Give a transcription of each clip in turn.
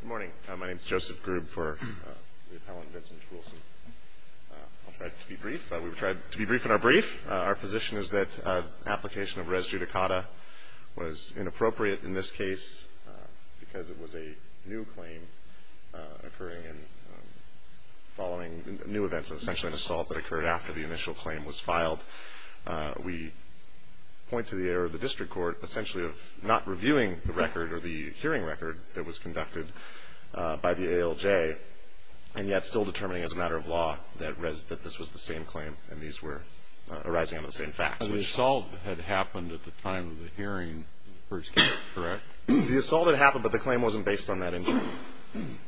Good morning. My name is Joseph Grube for the appellant, Vincent Trulson. I'll try to be brief. We've tried to be brief in our brief. Our position is that the application of res judicata was inappropriate in this case because it was a new claim occurring following new events, essentially an assault that occurred after the initial claim was filed. We point to the error of the district court essentially of not reviewing the record or the hearing record that was conducted by the ALJ and yet still determining as a matter of law that this was the same claim and these were arising out of the same facts. The assault had happened at the time of the hearing in the first case, correct? The assault had happened but the claim wasn't based on that information.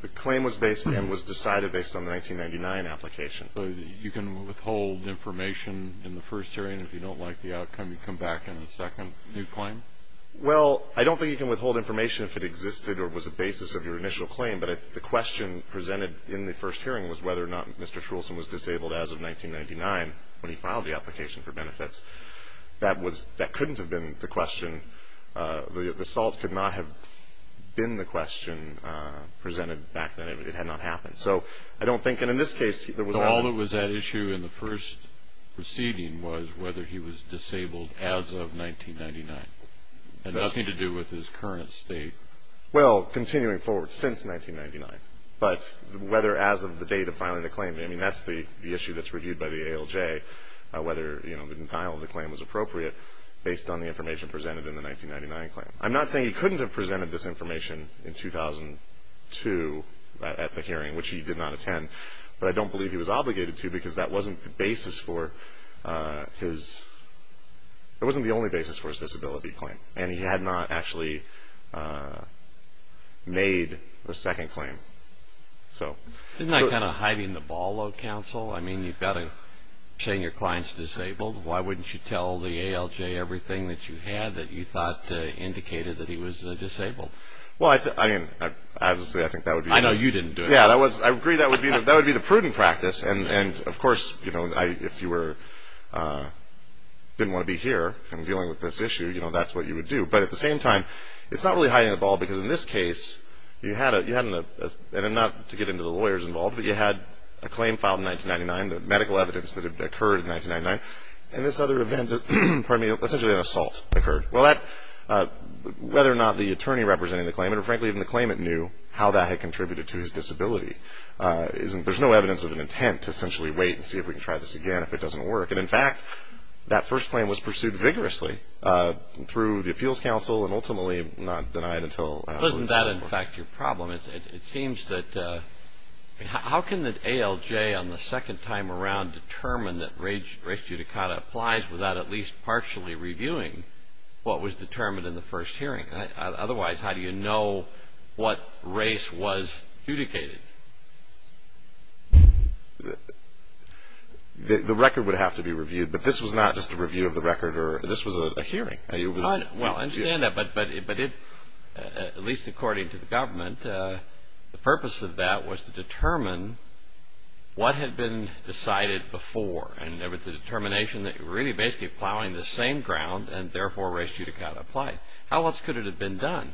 The claim was based and was decided based on the 1999 application. So you can withhold information in the first hearing if you don't like the outcome, you come back in the second new claim? Well, I don't think you can withhold information if it existed or was a basis of your initial claim, but the question presented in the first hearing was whether or not Mr. Trulson was disabled as of 1999 when he filed the application for benefits. That couldn't have been the question. The assault could not have been the question presented back then. It had not happened. So all that was at issue in the first proceeding was whether he was disabled as of 1999 and nothing to do with his current state. Well, continuing forward since 1999, but whether as of the date of filing the claim, I mean that's the issue that's reviewed by the ALJ, whether the denial of the claim was appropriate based on the information presented in the 1999 claim. I'm not saying he couldn't have presented this information in 2002 at the hearing, which he did not attend, but I don't believe he was obligated to because that wasn't the basis for his, that wasn't the only basis for his disability claim and he had not actually made the second claim. Isn't that kind of hiding the ball, though, counsel? I mean you've got to, saying your client's disabled, why wouldn't you tell the ALJ everything that you had that you thought indicated that he was disabled? Well, I mean, obviously I think that would be... I know you didn't do it. Yeah, I agree that would be the prudent practice and of course, you know, if you were, didn't want to be here and dealing with this issue, you know, that's what you would do, but at the same time, it's not really hiding the ball because in this case, you had, and not to get into the lawyers involved, but you had a claim filed in 1999, the medical evidence that had occurred in 1999, and this other event, pardon me, essentially an assault occurred. Well, whether or not the attorney representing the claimant, or frankly even the claimant knew how that had contributed to his disability, there's no evidence of an intent to essentially wait and see if we can try this again, if it doesn't work, and in fact, that first claim was pursued vigorously through the appeals council and ultimately not denied until... To get back to your problem, it seems that... How can the ALJ on the second time around determine that race judicata applies without at least partially reviewing what was determined in the first hearing? Otherwise, how do you know what race was adjudicated? The record would have to be reviewed, but this was not just a review of the record, this was a hearing. I understand that, but at least according to the government, the purpose of that was to determine what had been decided before, and with the determination that you were really basically plowing the same ground and therefore race judicata applied. How else could it have been done?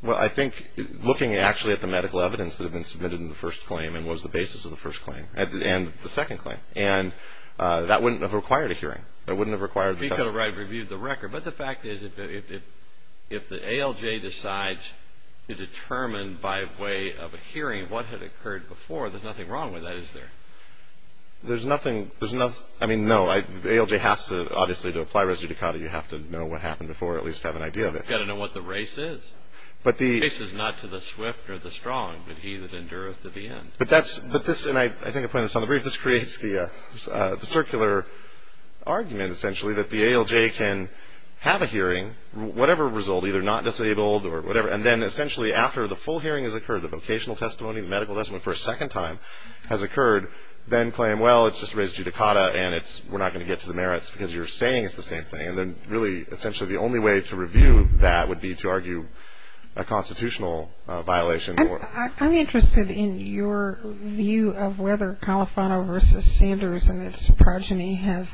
Well, I think looking actually at the medical evidence that had been submitted in the first claim and was the basis of the second claim, and that wouldn't have required a hearing. That wouldn't have required... Because I reviewed the record, but the fact is if the ALJ decides to determine by way of a hearing what had occurred before, there's nothing wrong with that, is there? There's nothing... I mean, no. The ALJ has to obviously, to apply race judicata, you have to know what happened before, at least have an idea of it. You've got to know what the race is. But the... The race is not to the swift or the strong, but he that endureth to the end. But this, and I think I put this on the brief, this creates the circular argument, essentially, that the ALJ can have a hearing, whatever result, either not disabled or whatever, and then essentially after the full hearing has occurred, the vocational testimony, the medical testimony for a second time has occurred, then claim, well, it's just race judicata, and we're not going to get to the merits because you're saying it's the same thing, and then really essentially the only way to review that would be to argue a constitutional violation. I'm interested in your view of whether Califano v. Sanders and its progeny have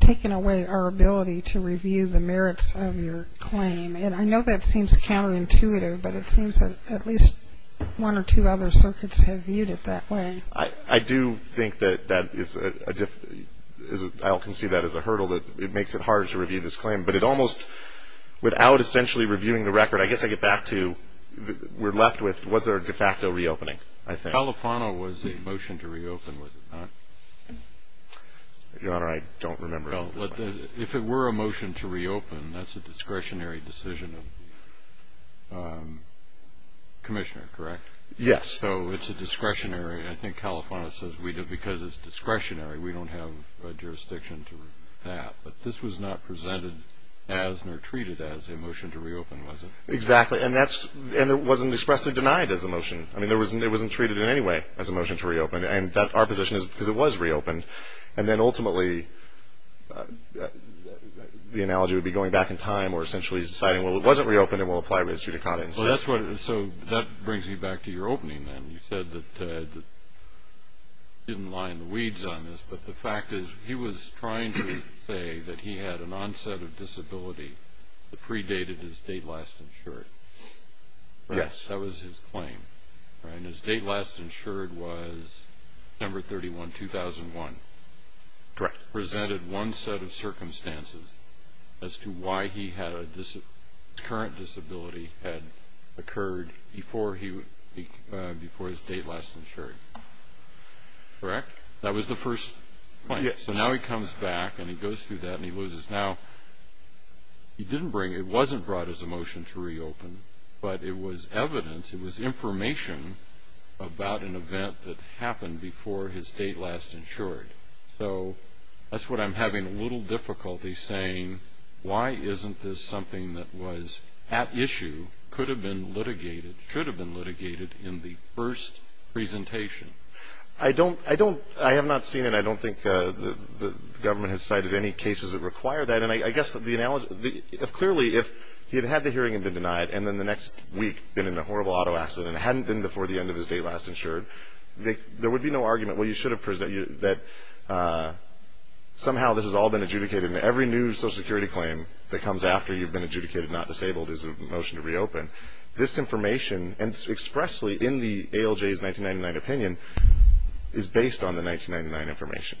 taken away our ability to review the merits of your claim, and I know that seems counterintuitive, but it seems that at least one or two other circuits have viewed it that way. I do think that that is a... I don't conceive that as a hurdle, that it makes it harder to review this claim, but it almost, without essentially reviewing the record, I guess I get back to we're left with was there a de facto reopening, I think. Califano was a motion to reopen, was it not? Your Honor, I don't remember. If it were a motion to reopen, that's a discretionary decision of the commissioner, correct? Yes. So it's a discretionary. I think Califano says because it's discretionary, we don't have a jurisdiction to do that, but this was not presented as nor treated as a motion to reopen, was it? Exactly. And it wasn't expressly denied as a motion. I mean, it wasn't treated in any way as a motion to reopen, and our position is because it was reopened, and then ultimately the analogy would be going back in time or essentially deciding, well, it wasn't reopened and we'll apply res judicata instead. So that brings me back to your opening then. You said that you didn't lie in the weeds on this, but the fact is he was trying to say that he had an onset of disability that predated his date last insured. Yes. That was his claim, right? And his date last insured was December 31, 2001. Correct. Presented one set of circumstances as to why his current disability had occurred before his date last insured, correct? That was the first claim. So now he comes back and he goes through that and he loses. Now, it wasn't brought as a motion to reopen, but it was evidence, it was information about an event that happened before his date last insured. So that's what I'm having a little difficulty saying. Why isn't this something that was at issue, could have been litigated, should have been litigated in the first presentation? I have not seen it. I don't think the government has cited any cases that require that. And I guess clearly if he had had the hearing and been denied and then the next week been in a horrible auto accident and hadn't been before the end of his date last insured, there would be no argument that somehow this has all been adjudicated and every new Social Security claim that comes after you've been adjudicated not disabled is a motion to reopen. This information, and expressly in the ALJ's 1999 opinion, is based on the 1999 information.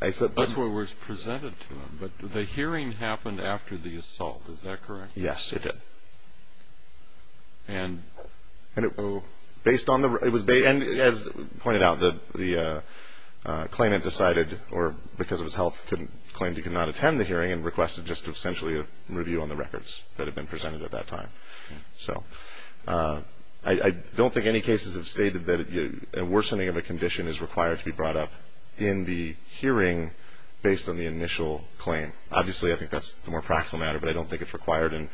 That's what was presented to him. But the hearing happened after the assault, is that correct? Yes, it did. And? And it was based, as pointed out, the claimant decided, or because of his health, claimed he could not attend the hearing and requested just essentially a review on the records that had been presented at that time. So I don't think any cases have stated that a worsening of a condition is required to be brought up in the hearing based on the initial claim. Obviously, I think that's the more practical matter, but I don't think it's required in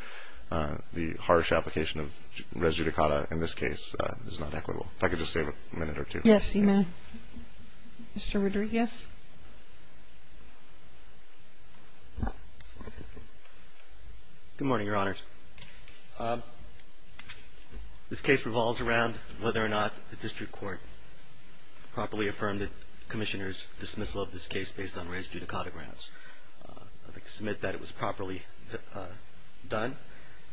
the harsh application of res judicata in this case. This is not equitable. If I could just save a minute or two. Yes, you may. Mr. Rodriguez? Good morning, Your Honors. This case revolves around whether or not the district court properly affirmed the commissioner's dismissal of this case based on res judicata grounds. I'd like to submit that it was properly done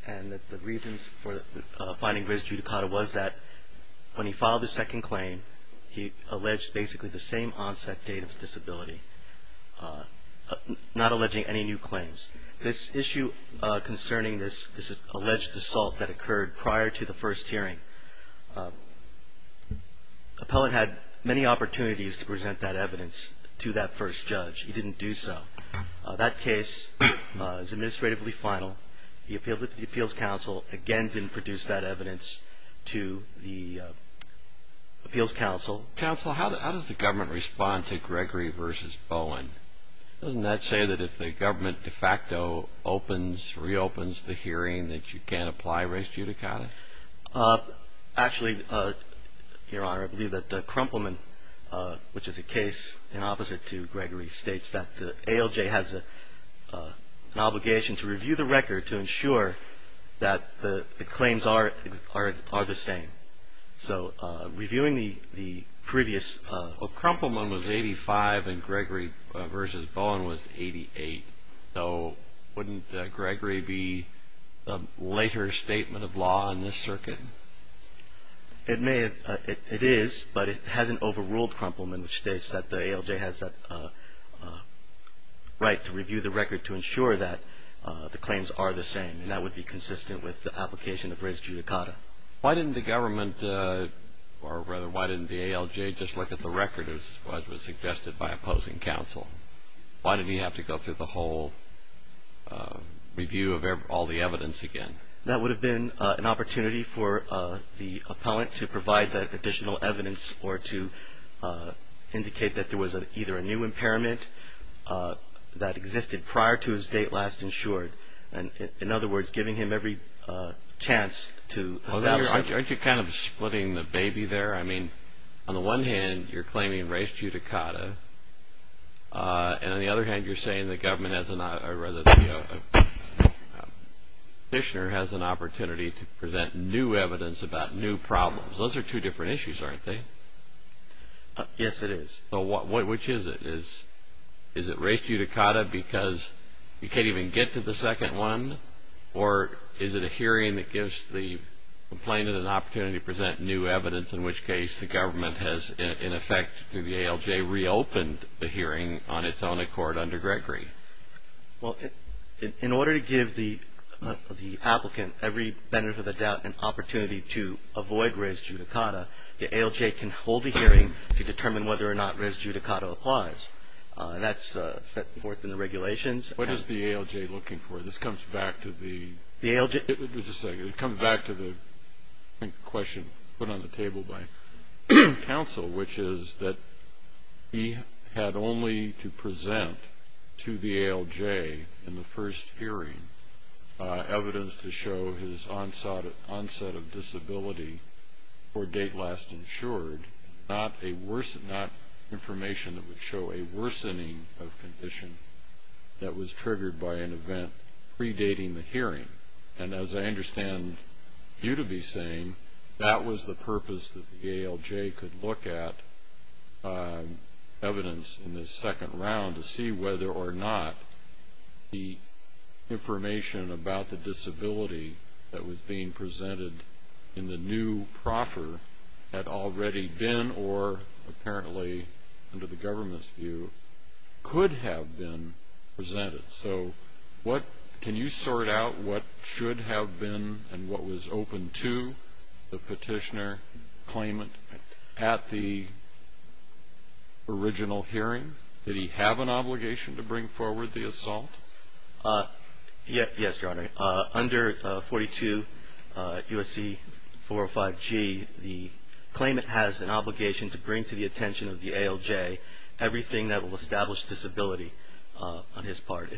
and that the reasons for finding res judicata was that when he filed his second claim, he alleged basically the same onset date of disability, not alleging any new claims. This issue concerning this alleged assault that occurred prior to the first hearing, the appellate had many opportunities to present that evidence to that first judge. He didn't do so. That case is administratively final. The appeals counsel again didn't produce that evidence to the appeals counsel. Counsel, how does the government respond to Gregory v. Bowen? Doesn't that say that if the government de facto opens, reopens the hearing that you can't apply res judicata? Actually, Your Honor, I believe that Krumpelman, which is a case in opposite to Gregory's, states that the ALJ has an obligation to review the record to ensure that the claims are the same. So reviewing the previous… Well, Krumpelman was 85 and Gregory v. Bowen was 88. So wouldn't Gregory be the later statement of law in this circuit? It is, but it hasn't overruled Krumpelman, which states that the ALJ has a right to review the record to ensure that the claims are the same, and that would be consistent with the application of res judicata. Why didn't the government, or rather, why didn't the ALJ just look at the record as was suggested by opposing counsel? Why did he have to go through the whole review of all the evidence again? That would have been an opportunity for the appellant to provide the additional evidence or to indicate that there was either a new impairment that existed prior to his date last insured. In other words, giving him every chance to establish… Aren't you kind of splitting the baby there? I mean, on the one hand, you're claiming res judicata, and on the other hand, you're saying the government, or rather, the petitioner has an opportunity to present new evidence about new problems. Those are two different issues, aren't they? Yes, it is. Which is it? Is it res judicata because you can't even get to the second one, or is it a hearing that gives the complainant an opportunity to present new evidence, in which case the government has, in effect, through the ALJ, reopened the hearing on its own accord under Gregory? Well, in order to give the applicant every benefit of the doubt, an opportunity to avoid res judicata, the ALJ can hold a hearing to determine whether or not res judicata applies, and that's set forth in the regulations. What is the ALJ looking for? This comes back to the… The ALJ… Council, which is that he had only to present to the ALJ in the first hearing evidence to show his onset of disability or date last insured, not information that would show a worsening of condition that was triggered by an event predating the hearing. And as I understand you to be saying, that was the purpose that the ALJ could look at evidence in the second round to see whether or not the information about the disability that was being presented in the new proffer had already been or apparently under the government's view could have been presented. So can you sort out what should have been and what was open to the petitioner claimant at the original hearing? Did he have an obligation to bring forward the assault? Yes, Your Honor. Under 42 U.S.C. 405G, the claimant has an obligation to bring to the attention of the ALJ everything that will establish disability on his part.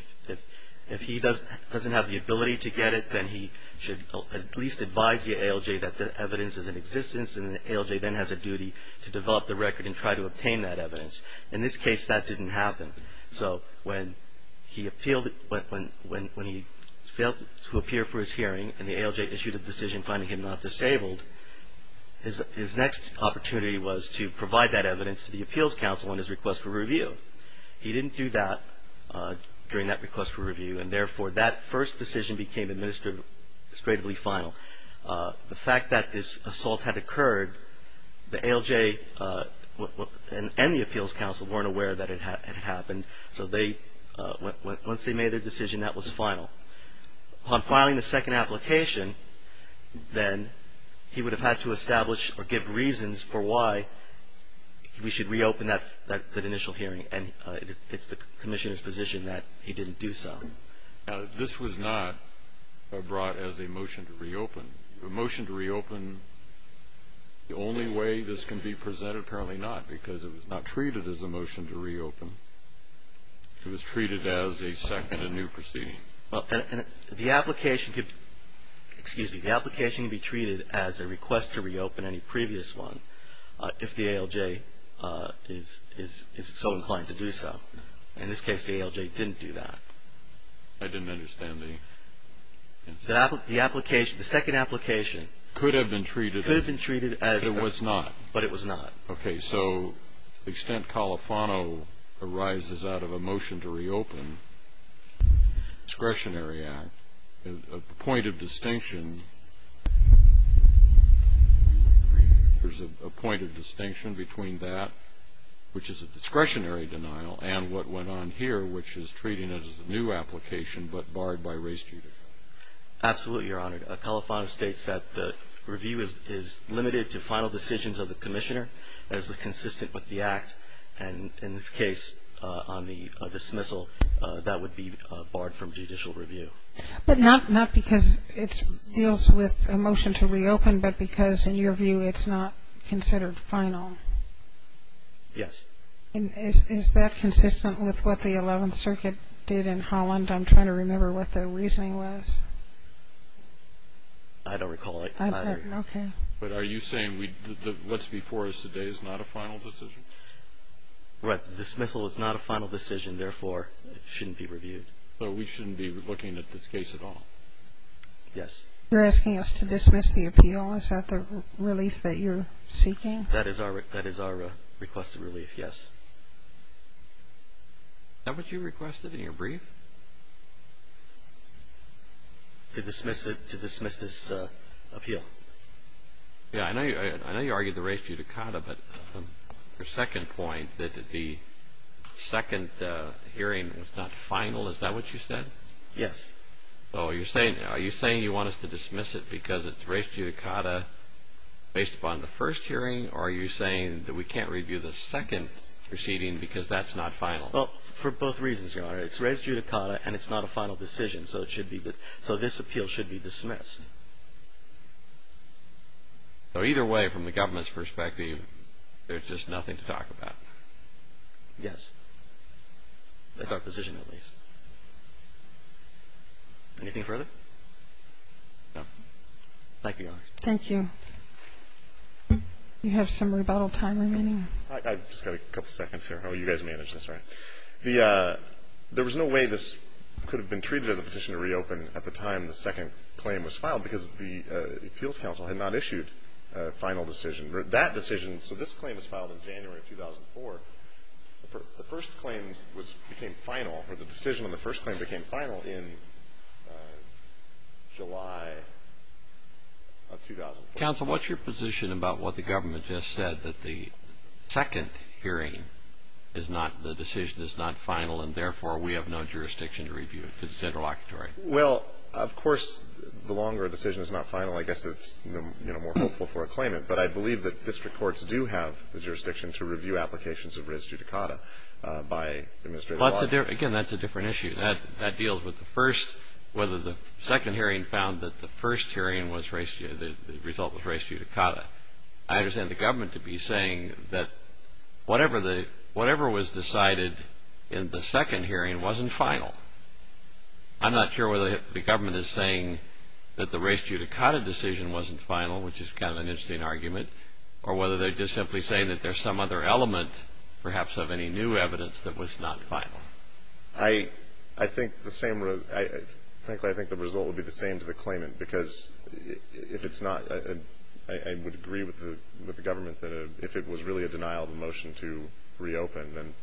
If he doesn't have the ability to get it, then he should at least advise the ALJ that the evidence is in existence and the ALJ then has a duty to develop the record and try to obtain that evidence. In this case, that didn't happen. So when he failed to appear for his hearing and the ALJ issued a decision finding him not disabled, his next opportunity was to provide that evidence to the Appeals Council on his request for review. He didn't do that during that request for review and therefore that first decision became administratively final. The fact that this assault had occurred, the ALJ and the Appeals Council weren't aware that it had happened. So once they made their decision, that was final. Upon filing the second application, then he would have had to establish or give reasons for why we should reopen that initial hearing and it's the Commissioner's position that he didn't do so. This was not brought as a motion to reopen. A motion to reopen, the only way this can be presented, apparently not because it was not treated as a motion to reopen. It was treated as a second and new proceeding. The application can be treated as a request to reopen any previous one if the ALJ is so inclined to do so. In this case, the ALJ didn't do that. I didn't understand the... The second application... Could have been treated... Could have been treated as... But it was not. But it was not. Okay. So the extent Califano arises out of a motion to reopen, discretionary act, a point of distinction... There's a point of distinction between that, which is a discretionary denial, and what went on here, which is treating it as a new application but barred by race judicial. Absolutely, Your Honor. Califano states that the review is limited to final decisions of the commissioner as consistent with the act. And in this case, on the dismissal, that would be barred from judicial review. But not because it deals with a motion to reopen, but because, in your view, it's not considered final. Yes. I'm trying to remember what the reasoning was. I don't recall it. Okay. But are you saying what's before us today is not a final decision? Right. The dismissal is not a final decision. Therefore, it shouldn't be reviewed. So we shouldn't be looking at this case at all? Yes. You're asking us to dismiss the appeal? Is that the relief that you're seeking? That is our requested relief, yes. Is that what you requested in your brief? To dismiss this appeal. Yeah. I know you argued the race judicata, but your second point that the second hearing was not final, is that what you said? Yes. So are you saying you want us to dismiss it because it's race judicata based upon the first hearing, or are you saying that we can't review the second proceeding because that's not final? Well, for both reasons, Your Honor. It's race judicata, and it's not a final decision, so this appeal should be dismissed. So either way, from the government's perspective, there's just nothing to talk about? Yes. That's our position, at least. Anything further? No. Thank you, Your Honor. Thank you. Do you have some rebuttal time remaining? I've just got a couple seconds here. Oh, you guys managed this, right. There was no way this could have been treated as a petition to reopen at the time the second claim was filed because the Appeals Council had not issued a final decision. That decision, so this claim was filed in January of 2004. The first claims became final, or the decision on the first claim became final in July of 2004. Counsel, what's your position about what the government just said, that the second hearing is not, the decision is not final, and therefore we have no jurisdiction to review it because it's interlocutory? Well, of course, the longer a decision is not final, I guess it's more hopeful for a claimant, but I believe that district courts do have the jurisdiction to review applications of res judicata by administrative law. Again, that's a different issue. That deals with the first, whether the second hearing found that the first hearing was, the result was res judicata. I understand the government to be saying that whatever was decided in the second hearing wasn't final. I'm not sure whether the government is saying that the res judicata decision wasn't final, which is kind of an interesting argument, or whether they're just simply saying that there's some other element perhaps of any new evidence that was not final. I think the same, frankly, I think the result would be the same to the claimant because if it's not, I would agree with the government that if it was really a denial of a motion to reopen, then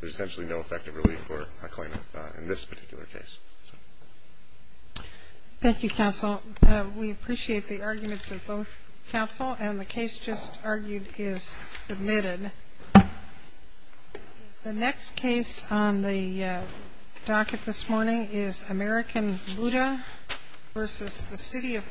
there's essentially no effective relief for a claimant in this particular case. Thank you, Counsel. We appreciate the arguments of both counsel, and the case just argued is submitted. The next case on the docket this morning is American Buddha versus the City of Ashland.